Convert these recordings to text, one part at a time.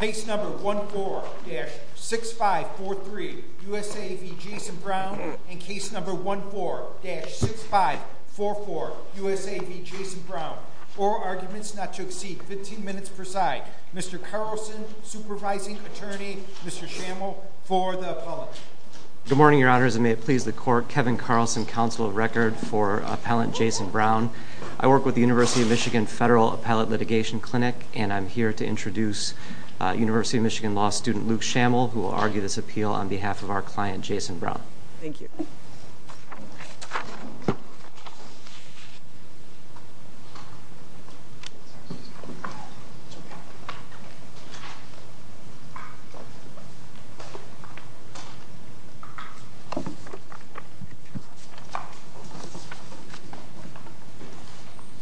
Case No. 14-6543 U.S.A. v. Jason Brown and Case No. 14-6544 U.S.A. v. Jason Brown Oral arguments not to exceed 15 minutes per side Mr. Carlson, supervising attorney, Mr. Schammel, for the appellate Good morning, your honors, and may it please the court Kevin Carlson, counsel of record for appellant Jason Brown I work with the University of Michigan Federal Appellate Litigation Clinic and I'm here to introduce University of Michigan Law student Luke Schammel who will argue this appeal on behalf of our client, Jason Brown Thank you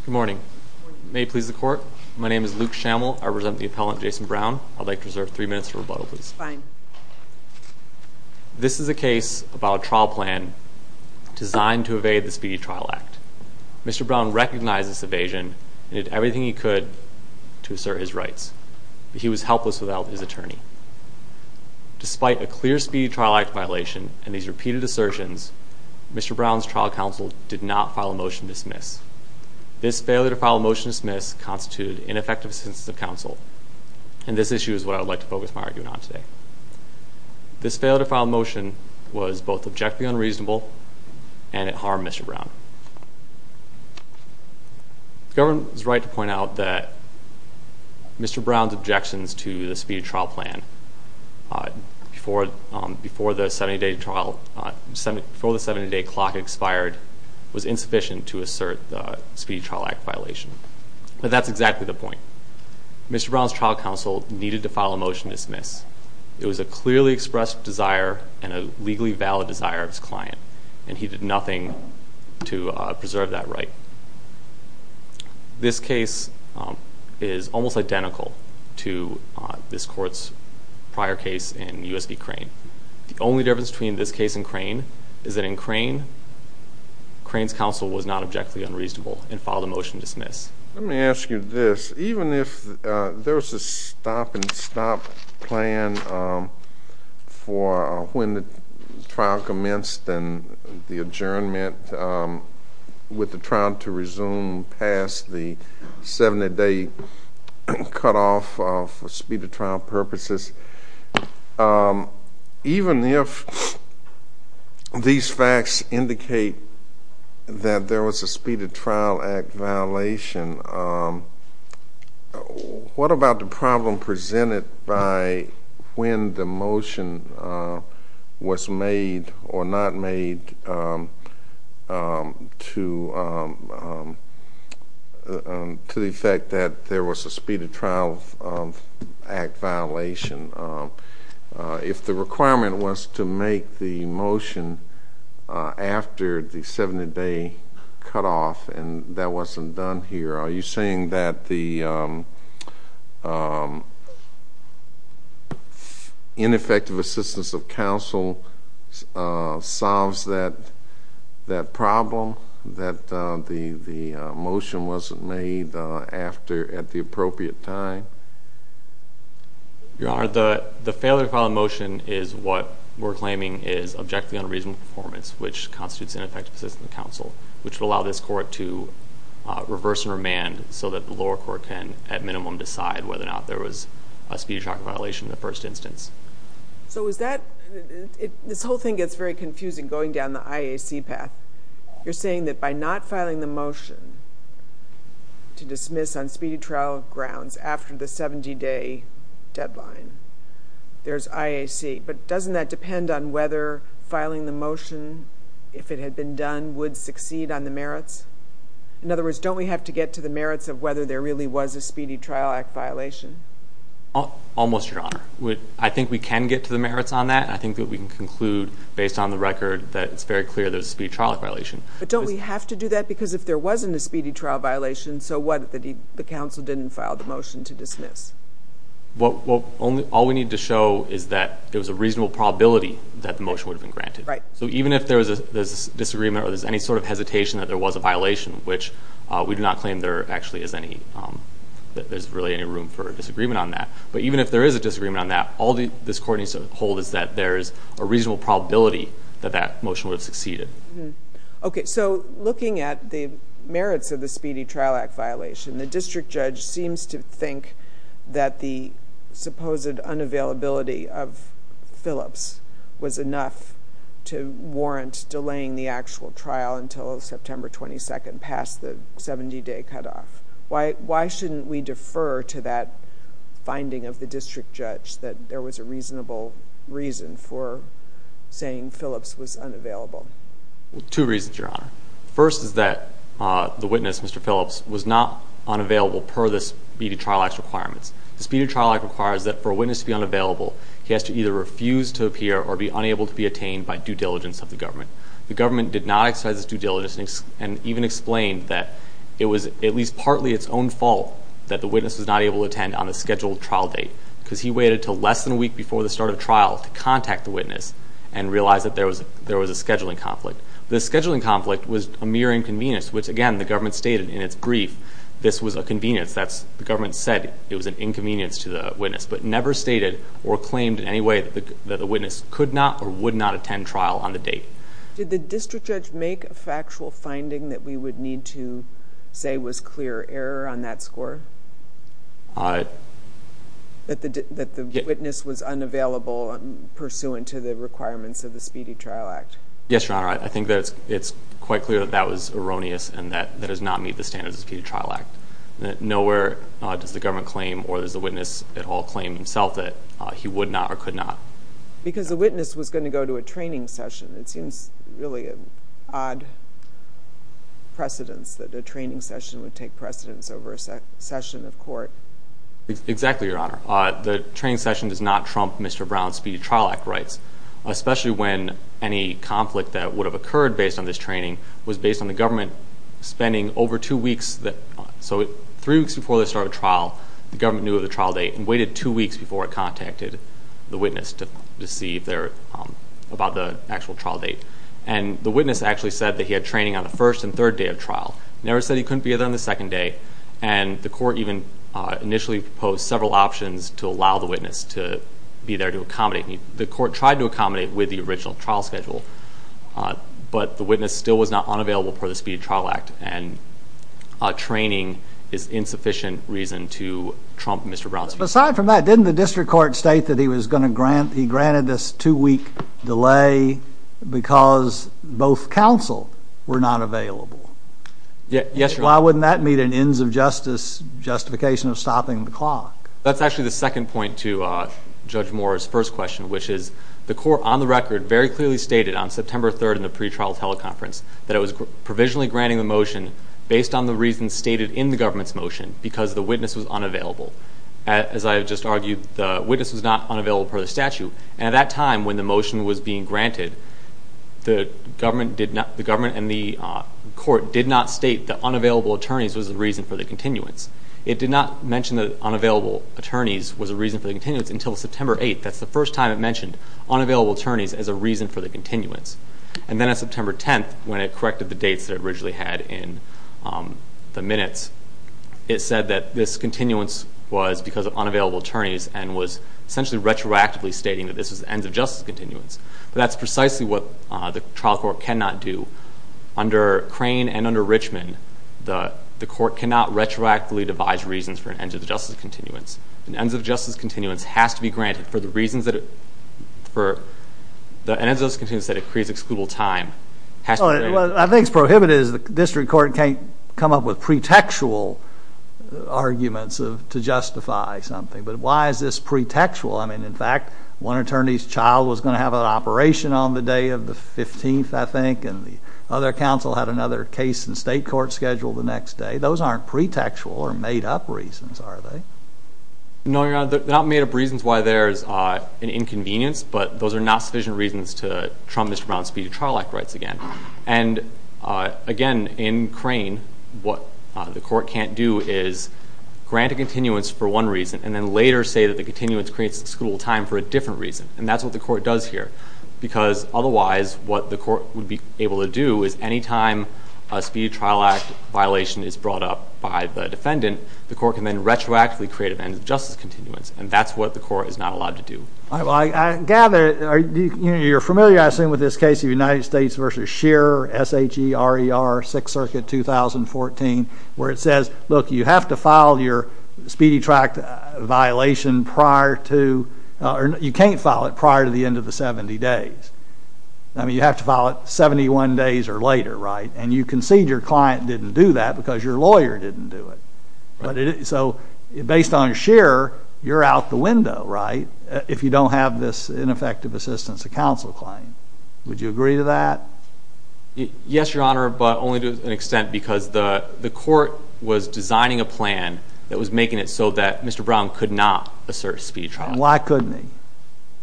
Good morning, may it please the court My name is Luke Schammel, I represent the appellant, Jason Brown I'd like to reserve three minutes for rebuttal, please Fine This is a case about a trial plan designed to evade the Speedy Trial Act Mr. Brown recognized this evasion and did everything he could to assert his rights but he was helpless without his attorney Despite a clear Speedy Trial Act violation and these repeated assertions Mr. Brown's trial counsel did not file a motion to dismiss This failure to file a motion to dismiss constituted ineffective assistance of counsel and this issue is what I would like to focus my argument on today This failure to file a motion was both objectively unreasonable and it harmed Mr. Brown The government was right to point out that Mr. Brown's objections to the Speedy Trial Plan before the 70 day trial, before the 70 day clock expired was insufficient to assert the Speedy Trial Act violation But that's exactly the point Mr. Brown's trial counsel needed to file a motion to dismiss It was a clearly expressed desire and a legally valid desire of his client and he did nothing to preserve that right This case is almost identical to this court's prior case in U.S. v. Crane The only difference between this case and Crane is that in Crane Crane's counsel was not objectively unreasonable and filed a motion to dismiss Let me ask you this, even if there's a stop and stop plan for when the trial commenced and the adjournment with the trial to resume past the 70 day cutoff for speedy trial purposes even if these facts indicate that there was a Speedy Trial Act violation what about the problem presented by when the motion was made or not made to the effect that there was a Speedy Trial Act violation If the requirement was to make the motion after the 70 day cutoff and that wasn't done here Are you saying that the ineffective assistance of counsel solves that problem that the motion wasn't made at the appropriate time? Your Honor, the failure to file a motion is what we're claiming is objectively unreasonable performance which constitutes ineffective assistance of counsel which would allow this court to reverse and remand so that the lower court can at minimum decide whether or not there was a Speedy Trial Act violation in the first instance This whole thing gets very confusing going down the IAC path You're saying that by not filing the motion to dismiss on speedy trial grounds after the 70 day deadline, there's IAC Doesn't that depend on whether filing the motion if it had been done would succeed on the merits? In other words, don't we have to get to the merits of whether there really was a Speedy Trial Act violation? Almost, Your Honor I think we can get to the merits on that I think that we can conclude based on the record that it's very clear there was a Speedy Trial Act violation But don't we have to do that because if there wasn't a Speedy Trial Act violation so what, the counsel didn't file the motion to dismiss? All we need to show is that there was a reasonable probability that the motion would have been granted So even if there was a disagreement or any sort of hesitation that there was a violation, which we do not claim there actually is any that there's really any room for a disagreement on that But even if there is a disagreement on that all this court needs to hold is that there is a reasonable probability that that motion would have succeeded Okay, so looking at the merits of the Speedy Trial Act violation the district judge seems to think that the supposed unavailability of Phillips was enough to warrant delaying the actual trial until September 22nd, past the 70-day cutoff Why shouldn't we defer to that finding of the district judge that there was a reasonable reason for saying Phillips was unavailable? Two reasons, Your Honor First is that the witness, Mr. Phillips, was not unavailable per the Speedy Trial Act's requirements The Speedy Trial Act requires that for a witness to be unavailable he has to either refuse to appear or be unable to be attained by due diligence of the government The government did not exercise its due diligence and even explained that it was at least partly its own fault that the witness was not able to attend on a scheduled trial date because he waited until less than a week before the start of trial to contact the witness and realize that there was a scheduling conflict The scheduling conflict was a mere inconvenience which, again, the government stated in its brief this was a convenience the government said it was an inconvenience to the witness but never stated or claimed in any way that the witness could not or would not attend trial on the date Did the district judge make a factual finding that we would need to say was clear error on that score? That the witness was unavailable pursuant to the requirements of the Speedy Trial Act? Yes, Your Honor I think that it's quite clear that that was erroneous and that it does not meet the standards of the Speedy Trial Act Nowhere does the government claim or does the witness at all claim himself that he would not or could not Because the witness was going to go to a training session it seems really an odd precedence that a training session would take precedence over a session of court Exactly, Your Honor The training session does not trump Mr. Brown's Speedy Trial Act rights especially when any conflict that would have occurred based on this training was based on the government spending over two weeks so three weeks before they started trial the government knew of the trial date and waited two weeks before it contacted the witness to see about the actual trial date and the witness actually said that he had training on the first and third day of trial never said he couldn't be there on the second day and the court even initially proposed several options to allow the witness to be there to accommodate the court tried to accommodate with the original trial schedule but the witness still was not unavailable for the Speedy Trial Act and training is insufficient reason to trump Mr. Brown's Speedy Trial Act Aside from that, didn't the district court state that he granted this two week delay because both counsel were not available Yes, Your Honor Why wouldn't that meet an ends of justice justification of stopping the clock That's actually the second point to Judge Moore's first question which is the court on the record very clearly stated on September 3rd in the pre-trial teleconference that it was provisionally granting the motion based on the reasons stated in the government's motion because the witness was unavailable as I have just argued the witness was not unavailable for the statute and at that time when the motion was being granted the government and the court did not state that unavailable attorneys was the reason for the continuance It did not mention that unavailable attorneys was the reason for the continuance until September 8th that's the first time it mentioned unavailable attorneys as a reason for the continuance and then on September 10th when it corrected the dates that it originally had in the minutes it said that this continuance was because of unavailable attorneys and was essentially retroactively stating that this was the ends of justice continuance but that's precisely what the trial court cannot do under Crane and under Richmond the court cannot retroactively devise reasons for an ends of justice continuance an ends of justice continuance has to be granted for the reasons that it for an ends of justice continuance that it creates excludable time has to be granted I think what's prohibited is the district court can't come up with pretextual arguments to justify something but why is this pretextual? I mean in fact one attorney's child was going to have an operation on the day of the 15th I think and the other counsel had another case in state court scheduled the next day those aren't pretextual or made up reasons are they? No your honor they're not made up reasons why there's an inconvenience but those are not sufficient reasons to trump Mr. Brown's speedy trial act rights again and again in Crane what the court can't do is grant a continuance for one reason and then later say that the continuance creates excludable time for a different reason and that's what the court does here because otherwise what the court would be able to do is anytime a speedy trial act violation is brought up by the defendant the court can then retroactively create an ends of justice continuance and that's what the court is not allowed to do I gather you're familiar I assume with this case of United States v. Scherer S-H-E-R-E-R 6th Circuit 2014 where it says look you have to file your speedy trial act violation prior to you can't file it prior to the end of the 70 days you have to file it 71 days or later and you concede your client didn't do that because your lawyer didn't do it so based on Scherer you're out the window if you don't have this ineffective assistance to counsel claim would you agree to that? Yes your honor but only to an extent because the court was designing a plan that was making it so that Mr. Brown could not assert speedy trial why couldn't he?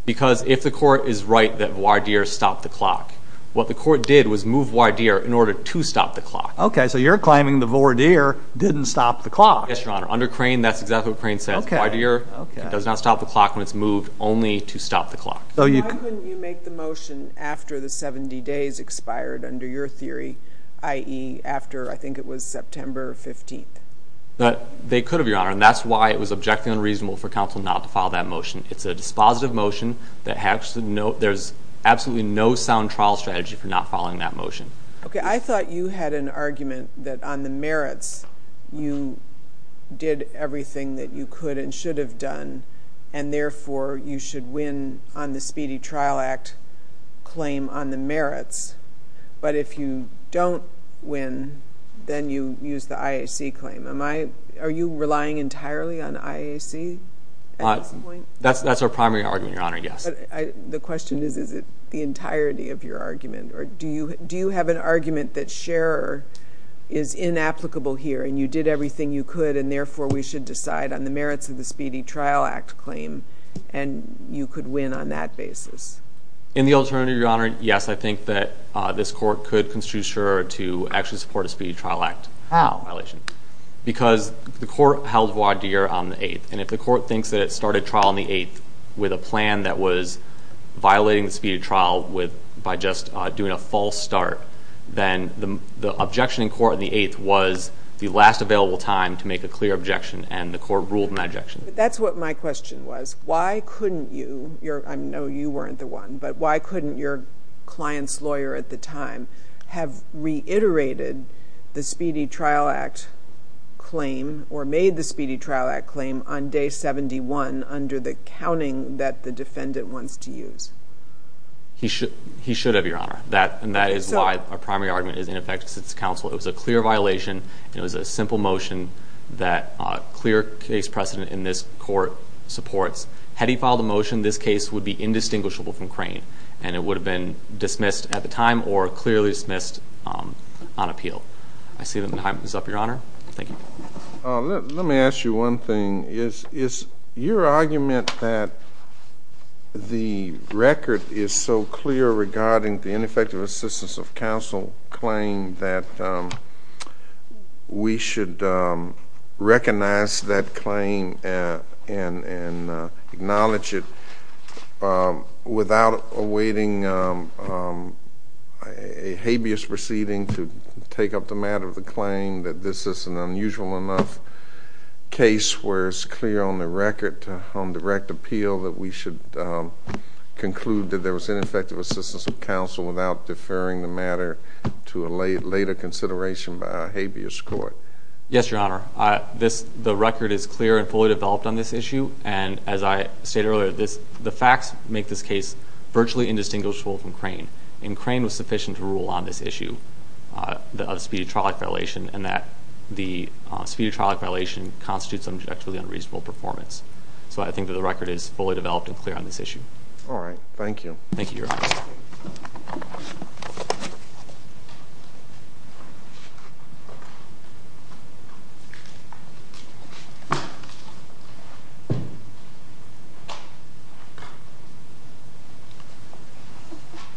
because if the court is right that voir dire stopped the clock what the court did was move voir dire in order to stop the clock okay so you're claiming the voir dire didn't stop the clock yes your honor under Crane that's exactly what Crane says voir dire does not stop the clock when it's moved only to stop the clock so you why couldn't you make the motion after the 70 days expired under your theory i.e. after I think it was September 15th they could have your honor and that's why it was objectively unreasonable for counsel not to file that motion it's a dispositive motion there's absolutely no sound trial strategy for not filing that motion okay I thought you had an argument that on the merits you did everything that you could and should have done and therefore you should win on the Speedy Trial Act claim on the merits but if you don't win then you use the IAC claim are you relying entirely on IAC at this point that's our primary argument your honor yes the question is is it the entirety of your argument or do you have an argument that Scherer is inapplicable here and you did everything you could and therefore we should decide on the merits of the Speedy Trial Act claim and you could win on that basis in the alternative your honor yes I think that this court could construe Scherer to actually support a Speedy Trial Act how because the court held voir dire on the 8th and if the court thinks that it started trial on the 8th with a plan that was violating the Speedy Trial by just doing a false start then the objection in court on the 8th was the last available time to make a clear objection and the court ruled in that objection that's what my question was why couldn't you I know you weren't the one but why couldn't your client's lawyer at the time have reiterated the Speedy Trial Act claim or made the Speedy Trial Act claim on day 71 under the counting that the defendant wants to use he should have your honor and that is why our primary argument is ineffective because it's counsel it was a clear violation it was a simple motion that clear case precedent in this court supports had he filed a motion this case would be indistinguishable from Crane and it would have been dismissed at the time or clearly dismissed on appeal I see the time is up your honor thank you let me ask you one thing is your argument that the record is so clear regarding the ineffective assistance of counsel claim that we should recognize that claim and acknowledge it without awaiting a habeas proceeding to take up the matter of the claim that this is an unusual enough case where it's clear on the record on direct appeal that we should conclude that there was ineffective assistance of counsel without deferring the matter to a later consideration by a habeas court yes your honor the record is clear and fully developed on this issue and as I said earlier the facts make this case virtually indistinguishable from Crane and Crane was sufficient to rule on this issue of speedy trial violation and that the speedy trial violation constitutes subject to unreasonable performance so I think the record is fully developed and clear on this issue alright thank you thank you your honor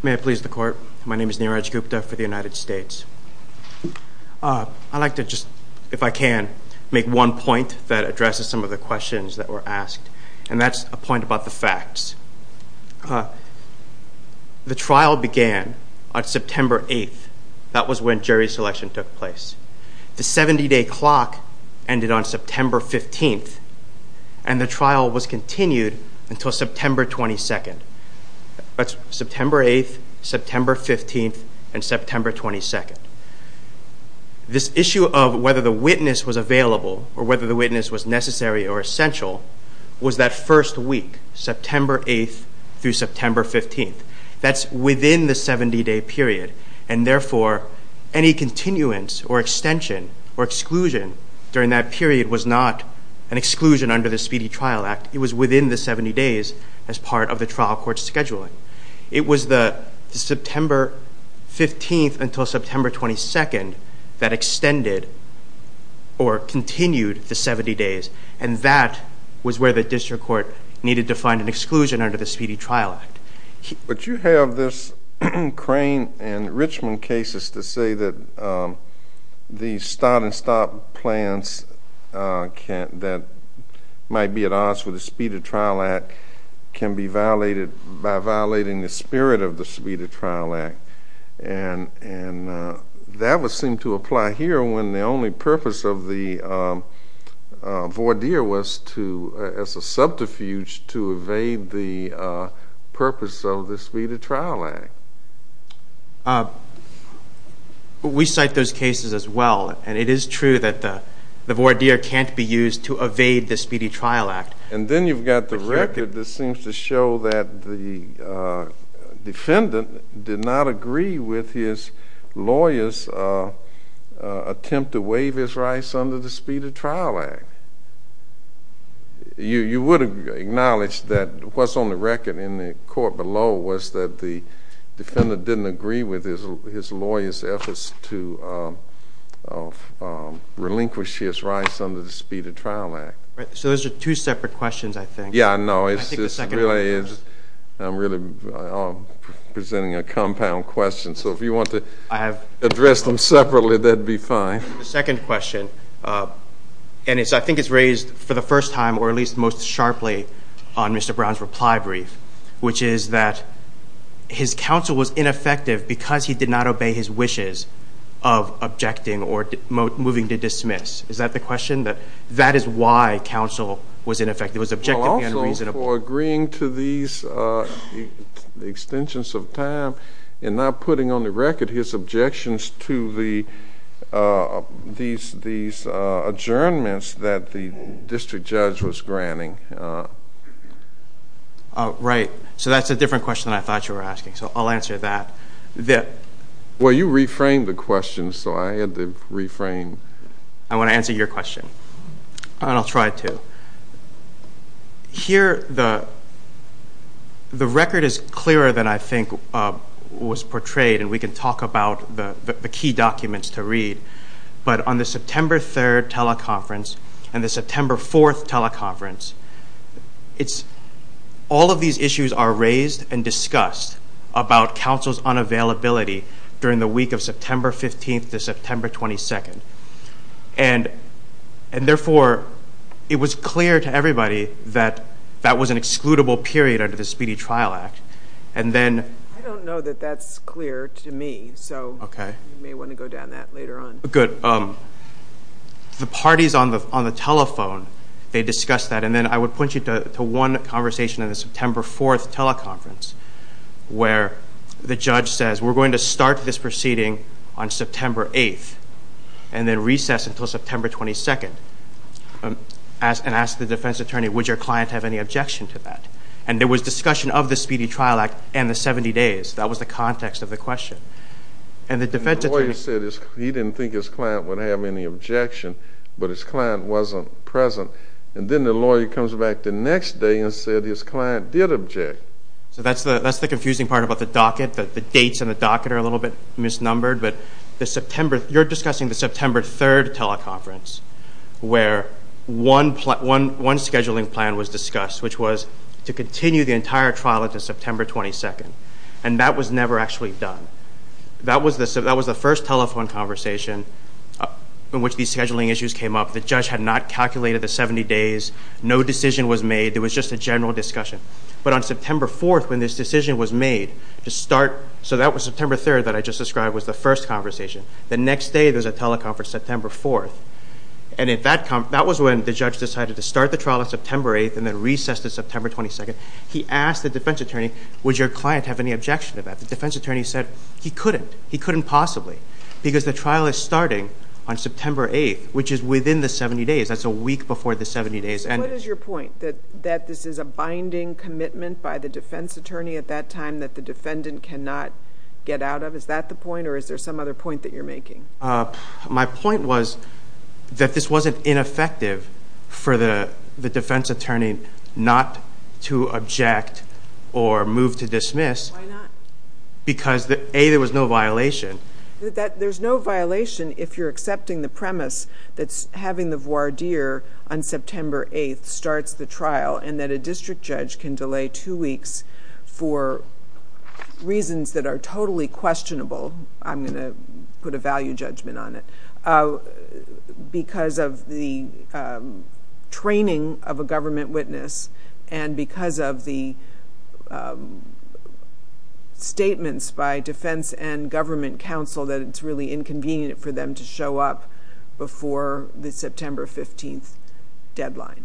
may I please the court my name is Neeraj Gupta for the United States I'd like to just if I can make one point that addresses some of the questions that were asked and that's a point about the facts the trial began on September 8th that was when jury selection took place the 70 day clock ended on September 15th and the trial was continued until September 22nd that's September 8th September 15th and September 22nd this issue of whether the witness was available or whether the witness was necessary or essential was that first week September 8th through September 15th that's within the 70 day period and therefore any continuance or extension or exclusion during that period was not an exclusion under the Speedy Trial Act it was within the 70 days as part of the trial court scheduling it was the September 15th until September 22nd that extended or continued the 70 days and that was where the district court needed to find an exclusion under the Speedy Trial Act but you have this crane in Richmond cases to say that the start and stop plans that might be at odds with the Speedy Trial Act can be violated by violating the spirit of the Speedy Trial Act and that would seem to apply here when the only purpose of the voir dire was to as a subterfuge to evade the purpose of the Speedy Trial Act we cite those cases as well and it is true that the voir dire can't be used to evade the Speedy Trial Act and then you've got the record that seems to show that the defendant did not agree with his lawyers attempt to waive his rights under the Speedy Trial Act you would acknowledge that what's on the record in the court below was that the defendant didn't agree with his lawyers efforts to relinquish his rights under the Speedy Trial Act so those are two separate questions I think I'm really presenting a compound question so if you want to address them separately that would be fine the second question and I think it's raised for the first time or at least most sharply on Mr. Brown's reply brief which is that his counsel was ineffective because he did not obey his wishes of objecting or moving to dismiss is that the question? that is why counsel was ineffective it was objectively unreasonable for agreeing to these extensions of time and not putting on the record his objections to the these adjournments that the district judge was granting right so that's a different question than I thought you were asking so I'll answer that well you reframed the question so I had to reframe I want to answer your question and I'll try to here the the record is clearer than I think was portrayed and we can talk about the key documents to read but on the September 3rd teleconference and the September 4th teleconference it's all of these issues are raised and discussed about counsel's unavailability during the week of September 15th to September 22nd and therefore it was clear to everybody that that was an excludable period under the Speedy Trial Act and then I don't know that that's clear to me so you may want to go down that later on good the parties on the telephone they discussed that and then I would point you to one conversation in the September 4th teleconference where the judge says we're going to start this proceeding on September 8th and then recess until September 22nd and ask the defense attorney would your client have any objection to that and there was discussion of the Speedy Trial Act and the 70 days that was the context of the question and the defense attorney he didn't think his client would have any objection but his client wasn't present and then the lawyer comes back the next day and said his client did object so that's the confusing part about the docket the dates in the docket are a little bit misnumbered but the September you're discussing the September 3rd teleconference where one scheduling plan was discussed which was to continue the entire trial until September 22nd and that was never actually done that was the first telephone conversation in which these scheduling issues came up the judge had not calculated the 70 days no decision was made it was just a general discussion but on September 4th when this decision was made to start so that was September 3rd that I just described was the first conversation the next day there was a teleconference September 4th and at that conference that was when the judge decided to start the trial on September 8th and then recess until September 22nd he asked the defense attorney would your client have any objection to that the defense attorney said he couldn't he couldn't possibly because the trial is starting on September 8th which is within the 70 days and what is your point that this is a binding commitment by the defense attorney at that time that the defendant cannot get out of is that the point or is there some other point that you're making my point was that this wasn't ineffective for the defense attorney not to object or move to dismiss because a there was no violation there's no violation if you're accepting the premise that's having the voir dire on September 8th starts the trial and that a district judge can delay two weeks for reasons that are totally questionable I'm going to put a value judgment on it because of the training of a government witness and because of the statements by defense and government counsel that it's really inconvenient for them to show up before the September 15th deadline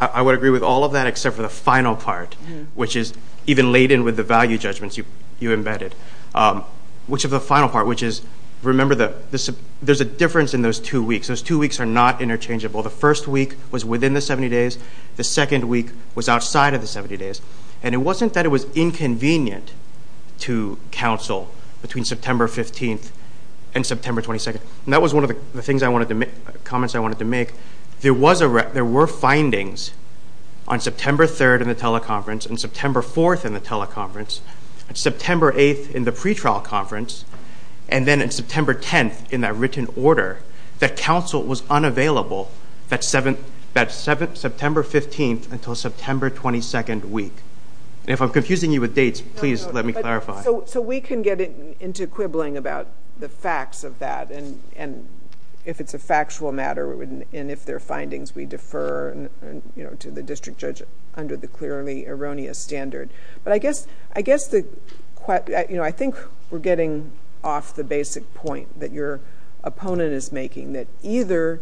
I would agree with all of that except for the final part which is even laden with the value judgments you embedded which of the final part which is remember that there's a difference in those two weeks those two weeks are not interchangeable the first week was within the 70 days the second week was outside of the 70 days and it wasn't that it was inconvenient to counsel between September 15th and September 22nd and that was one of the comments I wanted to make there were findings on September 3rd in the teleconference and September 4th in the teleconference and September 8th in the pretrial conference and then in September 10th in that written order that counsel was unavailable that September 15th until September 22nd week and if I'm confusing you with dates please let me clarify. So we can get into quibbling about the facts of that and if it's a factual matter and if there are findings we defer to the district judge under the clearly erroneous standard but I guess I think we're getting off the basic point that your opponent is making that either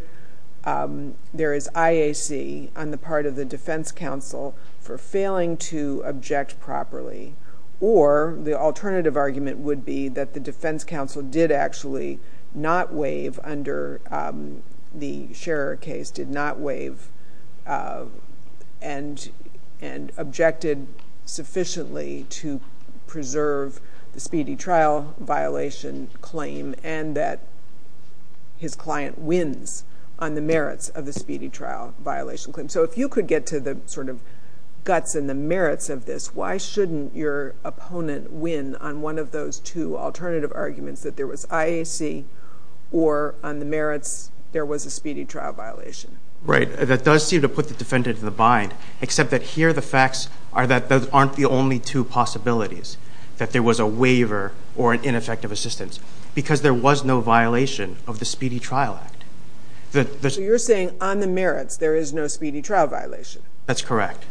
there is IAC on the part of the defense counsel for failing to object properly or the alternative argument would be that the defense counsel did actually not waive under the Scherer case did not waive and objected sufficiently to preserve the speedy trial violation claim and that his client speedy trial violation claim. So if you could get to the sort of guts and the merits of this why shouldn't your opponent win on one of those two alternative arguments that there was IAC or on the merits there was a speedy trial violation. Right. That does seem to put the defendant in the bind except that here the facts are that those aren't the only two possibilities that there was a waiver or an ineffective assistance because there was no violation of the speedy trial act You're saying on the merits there is no speedy trial violation That's correct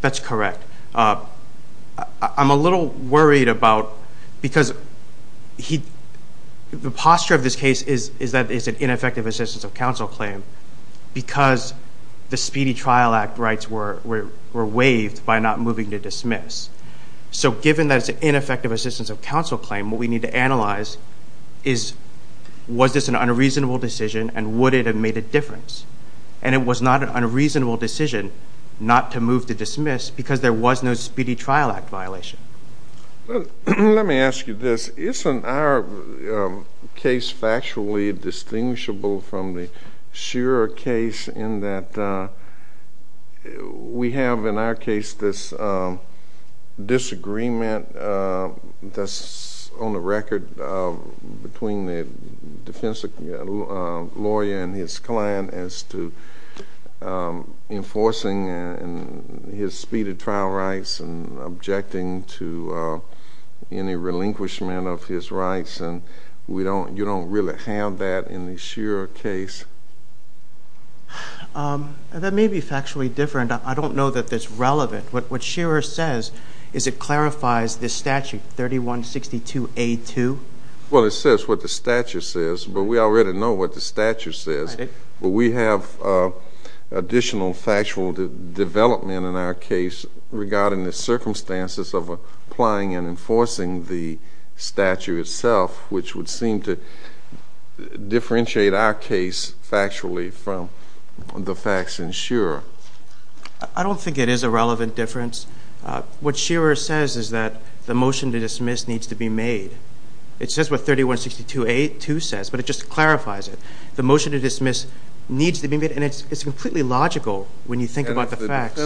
That's correct I'm a little worried about because he, the posture of this case is that it's an ineffective assistance of counsel claim because the speedy trial act rights were waived by not moving to dismiss so given that it's an ineffective assistance of counsel claim what we need to analyze is was this an unreasonable decision and would it have made a difference and it was not an unreasonable decision not to move to dismiss because there was no speedy trial act violation Let me ask you this isn't our case factually distinguishable from the Shurer case in that we have in our case this disagreement that's on the record between the defense lawyer and his client as to enforcing his speedy trial rights and objecting to any relinquishment of his rights and you don't really have that in the Shurer case That may be factually different. I don't know that that's relevant What Shurer says is it clarifies the statute 3162A2 Well it says what the statute says but we already know what the statute says but we have additional factual development in our case regarding the circumstances of applying and enforcing the statute itself which would seem to differentiate our case factually from the facts in Shurer I don't think it is a relevant difference What Shurer says is that the motion to dismiss needs to be made It says what 3162A2 says but it just clarifies it. The motion to dismiss needs to be made and it's completely logical when you think about the facts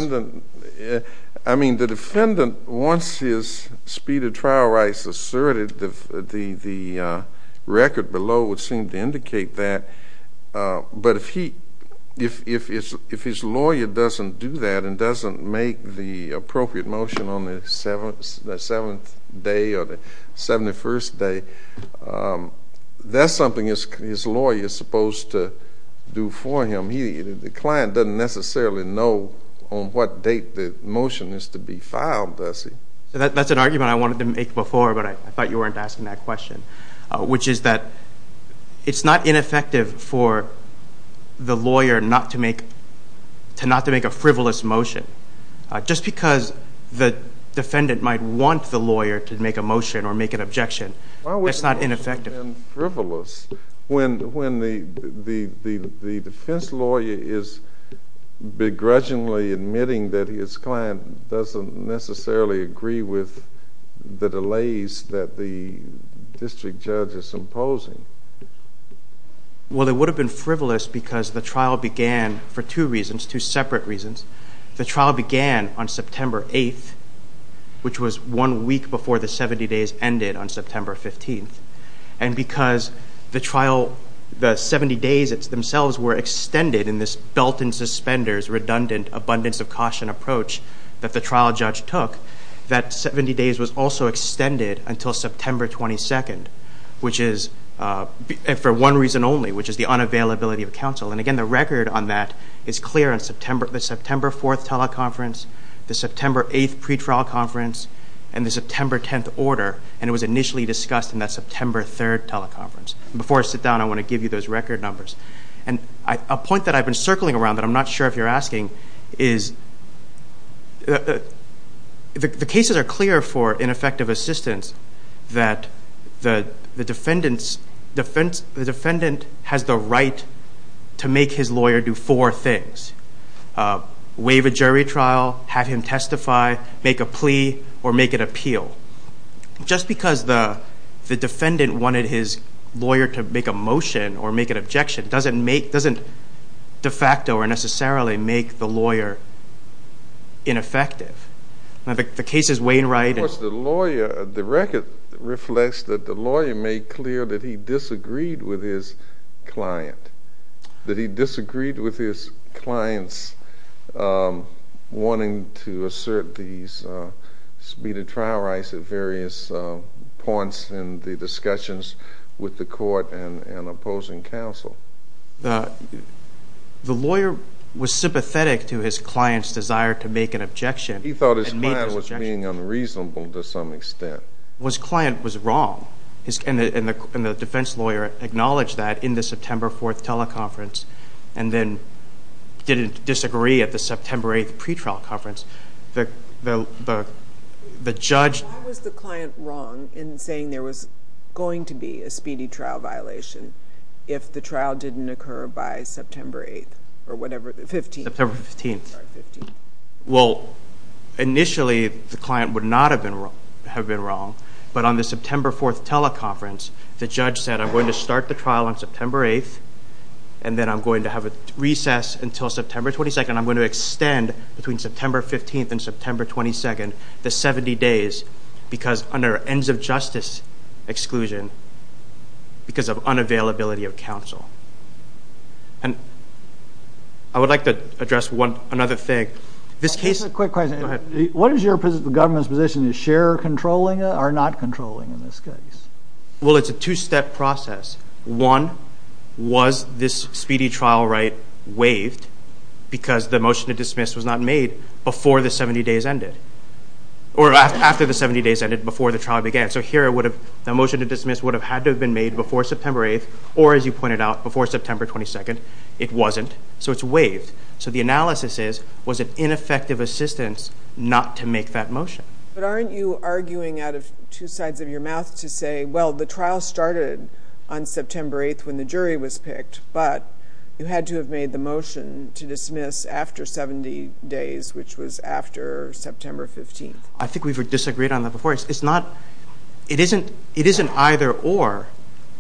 I mean the defendant wants his speedy trial rights asserted the record below would seem to indicate that but if he if his lawyer doesn't do that and doesn't make the appropriate motion on the 7th day or the 71st day that's something his lawyer is supposed to do for him the client doesn't necessarily know on what date the motion is to be filed does he? That's an argument I wanted to make before but I thought you weren't asking that question which is that it's not ineffective for the lawyer not to make a frivolous motion just because the defendant might want the lawyer to make a motion or make an objection it's not ineffective Why would the motion be frivolous when the defense lawyer is begrudgingly admitting that his client doesn't necessarily agree with the delays that the district judge is imposing Well it would have been frivolous because the trial began for two reasons two separate reasons the trial began on September 8th which was one week before the 70 days ended on September 15th and because the 70 days themselves were extended in this belt and suspenders redundant abundance of caution approach that the trial judge took that 70 days was also extended until September 22nd which is for one reason only which is the unavailability of counsel and again the record on that is clear on the September 4th teleconference the September 8th pretrial conference and the September 10th order and it was initially discussed in that September 3rd teleconference before I sit down I want to give you those record numbers and a point that I've been circling around that I'm not sure if you're asking is the cases are clear for ineffective assistance that the defendant the defendant has the right to make his lawyer do four things waive a jury trial have him testify, make a plea or make an appeal just because the defendant wanted his lawyer to make a motion or make an objection doesn't de facto or necessarily make the lawyer ineffective the case is Wainwright the record reflects that the lawyer made clear that he disagreed with his client that he disagreed with his clients wanting to assert these speeded trial rights at various points in the discussions with the court and opposing counsel the lawyer was sympathetic to his client's desire to make an objection he thought his client was being reasonable to some extent his client was wrong and the defense lawyer acknowledged that in the September 4th teleconference and then didn't disagree at the September 8th pretrial conference the judge why was the client wrong in saying there was going to be a speedy trial violation if the trial didn't occur by September 8th or whatever the 15th well initially the client would not have been wrong but on the September 4th teleconference the judge said I'm going to start the trial on September 8th and then I'm going to have a recess until September 22nd and I'm going to extend between September 15th and September 22nd the 70 days because under ends of justice exclusion because of unavailability of counsel and I would like to address another thing what is your government's position is share controlling or not controlling in this case well it's a two step process one was this speedy trial right waived because the motion to dismiss was not made before the 70 days ended or after the 70 days ended before the trial began so here the motion to dismiss would have had to have been made before September 8th or as you pointed out before September 22nd it wasn't so it's waived so the analysis is was it ineffective assistance not to make that motion but aren't you arguing out of two sides of your mouth to say well the trial started on September 8th when the jury was picked but you had to have made the motion to dismiss after 70 days which was after September 15th I think we've disagreed on that before it's not it isn't it isn't either or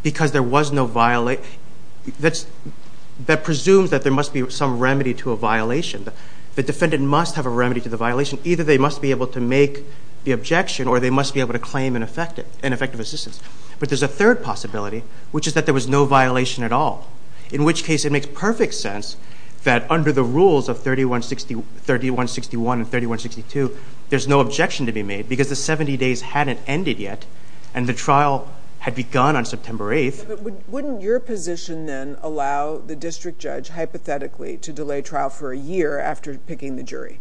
because there was no violation that presumes that there must be some remedy to a violation the defendant must have a remedy to the violation either they must be able to make the objection or they must be able to claim an effective assistance but there's a third possibility which is that there was no violation at all in which case it makes perfect sense that under the rules of 3161 and 3162 there's no objection to be made because the 70 days hadn't ended yet and the trial had begun on September 8th Wouldn't your position then allow the district judge hypothetically to delay trial for a year after picking the jury?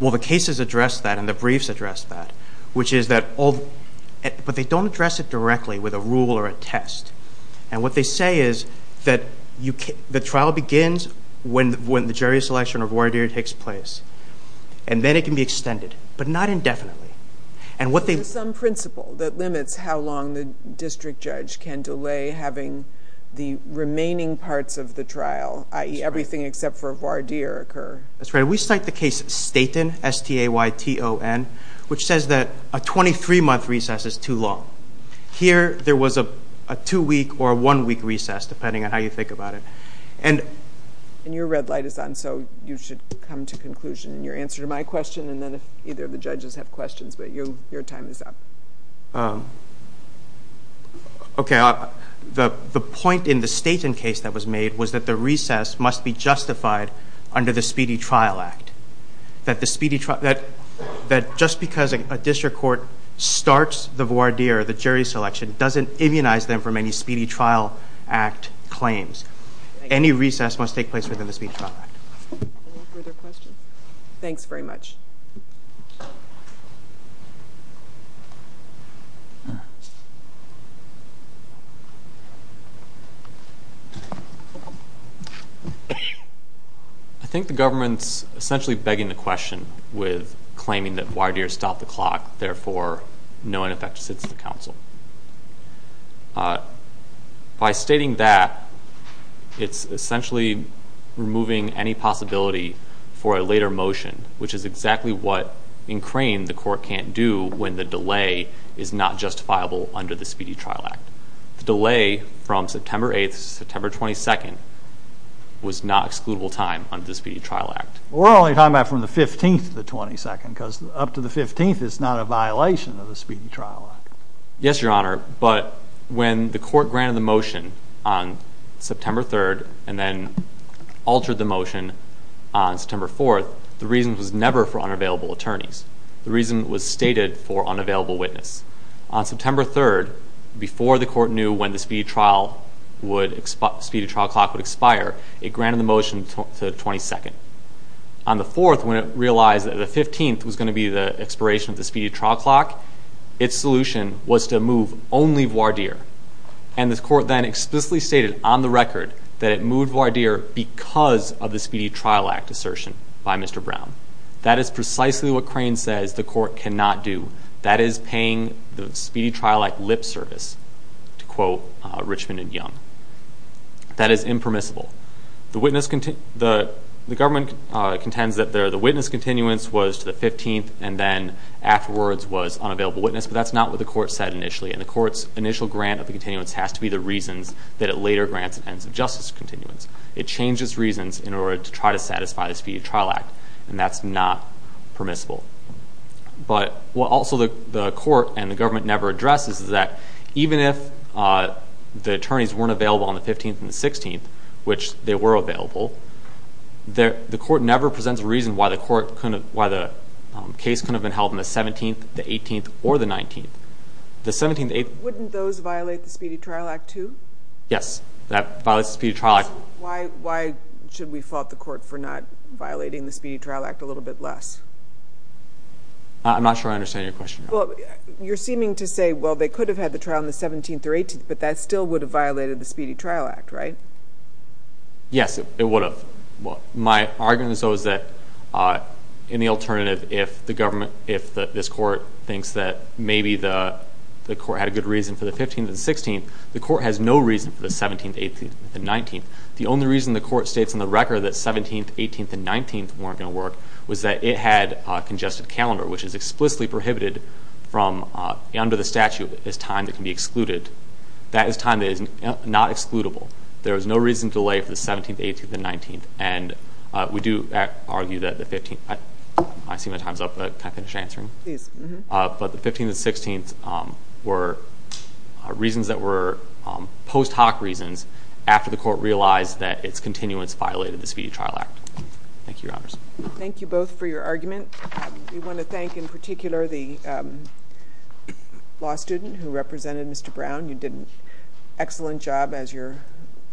Well the cases address that and the briefs address that which is that all but they don't address it directly with a rule or a test and what they say is that the trial begins when the jury selection or voir dire takes place and then it can be extended but not indefinitely and what they some principle that limits how long the district judge can delay having the remaining parts of the trial i.e. everything except for voir dire occur That's right. We cite the case Staten S-T-A-Y-T-O-N which says that a 23 month recess is too long. Here there was a two week or a one week recess depending on how you think about it and your red light is on so you should come to conclusion in your answer to my question and then if either of the points up. Okay the point in the Staten case that was made was that the recess must be justified under the Speedy Trial Act. That the Speedy Trial that just because a district court starts the voir dire, the jury selection doesn't immunize them from any Speedy Trial Act claims. Any recess must take place within the Speedy Trial Act. Any further questions? Thanks very much. Alright I think the government's essentially begging the question with claiming that voir dire stopped the clock therefore no ineffective sits at the council. By stating that it's essentially removing any possibility for a later motion which is exactly what in Crane the court can't do when the delay is not justifiable under the Speedy Trial Act. The delay from September 8th to September 22nd was not excludable time under the Speedy Trial Act. We're only talking about from the 15th to the 22nd because up to the 15th it's not a violation of the Speedy Trial Act. Yes your honor but when the court granted the motion on September 3rd and then altered the motion on September 4th the reason was never for unavailable attorneys. The reason was stated for unavailable witness. On September 3rd before the court knew when the Speedy Trial would, Speedy Trial Clock would expire it granted the motion to the 22nd. On the 4th when it realized that the 15th was going to be the expiration of the Speedy Trial Clock its solution was to move only voir dire. And the court then explicitly stated on the record that it moved voir dire because of the Speedy Trial Act assertion by Mr. Brown. That is precisely what Crane says the court cannot do. That is paying the Speedy Trial Act lip service to quote Richmond and Young. That is impermissible. The government contends that the witness continuance was to the 15th and then afterwards was unavailable witness but that's not what the court said initially and the court's initial grant of the continuance has to be the reasons that it later grants an ends of justice continuance. It changes reasons in order to try to satisfy the Speedy Trial Act and that's not permissible. But what also the court and the government never addresses is that even if the attorneys weren't available on the 15th and the 16th, which they were available the court never presents a reason why the court couldn't, why the case couldn't have been held on the 17th the 18th or the 19th. The 17th and the 18th. Wouldn't those violate the Speedy Trial Act too? Yes. That violates the Speedy Trial Act. Why should we fault the court for not violating the Speedy Trial Act a little bit less? I'm not sure I understand your question. You're seeming to say well they could have had the trial on the 17th or 18th but that still would have violated the Speedy Trial Act, right? Yes, it would have. My argument is though is that in the alternative if the government, if this court thinks that maybe the court had a good reason for the 15th and the 16th the court has no reason for the 17th, 18th, and 19th. The only reason the court states in the record that 17th, 18th, and 19th weren't going to work was that it had congested calendar, which is explicitly prohibited from under the statute as time that can be excluded. That is time that is not excludable. There is no reason to delay for the 17th, 18th, and 19th. And we do argue that the 15th, I see my time's up but can I finish answering? Please. But the 15th and 16th were reasons that were post hoc reasons after the court realized that its continuance violated the Speedy Trial Act. Thank you, Your Honors. Thank you both for your argument. We want to thank in particular the law student who represented Mr. Brown. You did an excellent job as your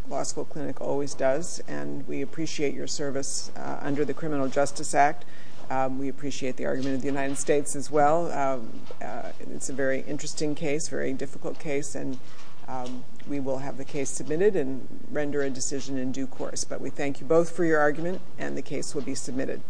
law school clinic always does and we appreciate your service under the Criminal Justice Act. We appreciate the argument of the United States as well. It's a very interesting case, very difficult case, and we will have the case submitted and render a decision in due course. But we thank you both for your argument and the case will be submitted.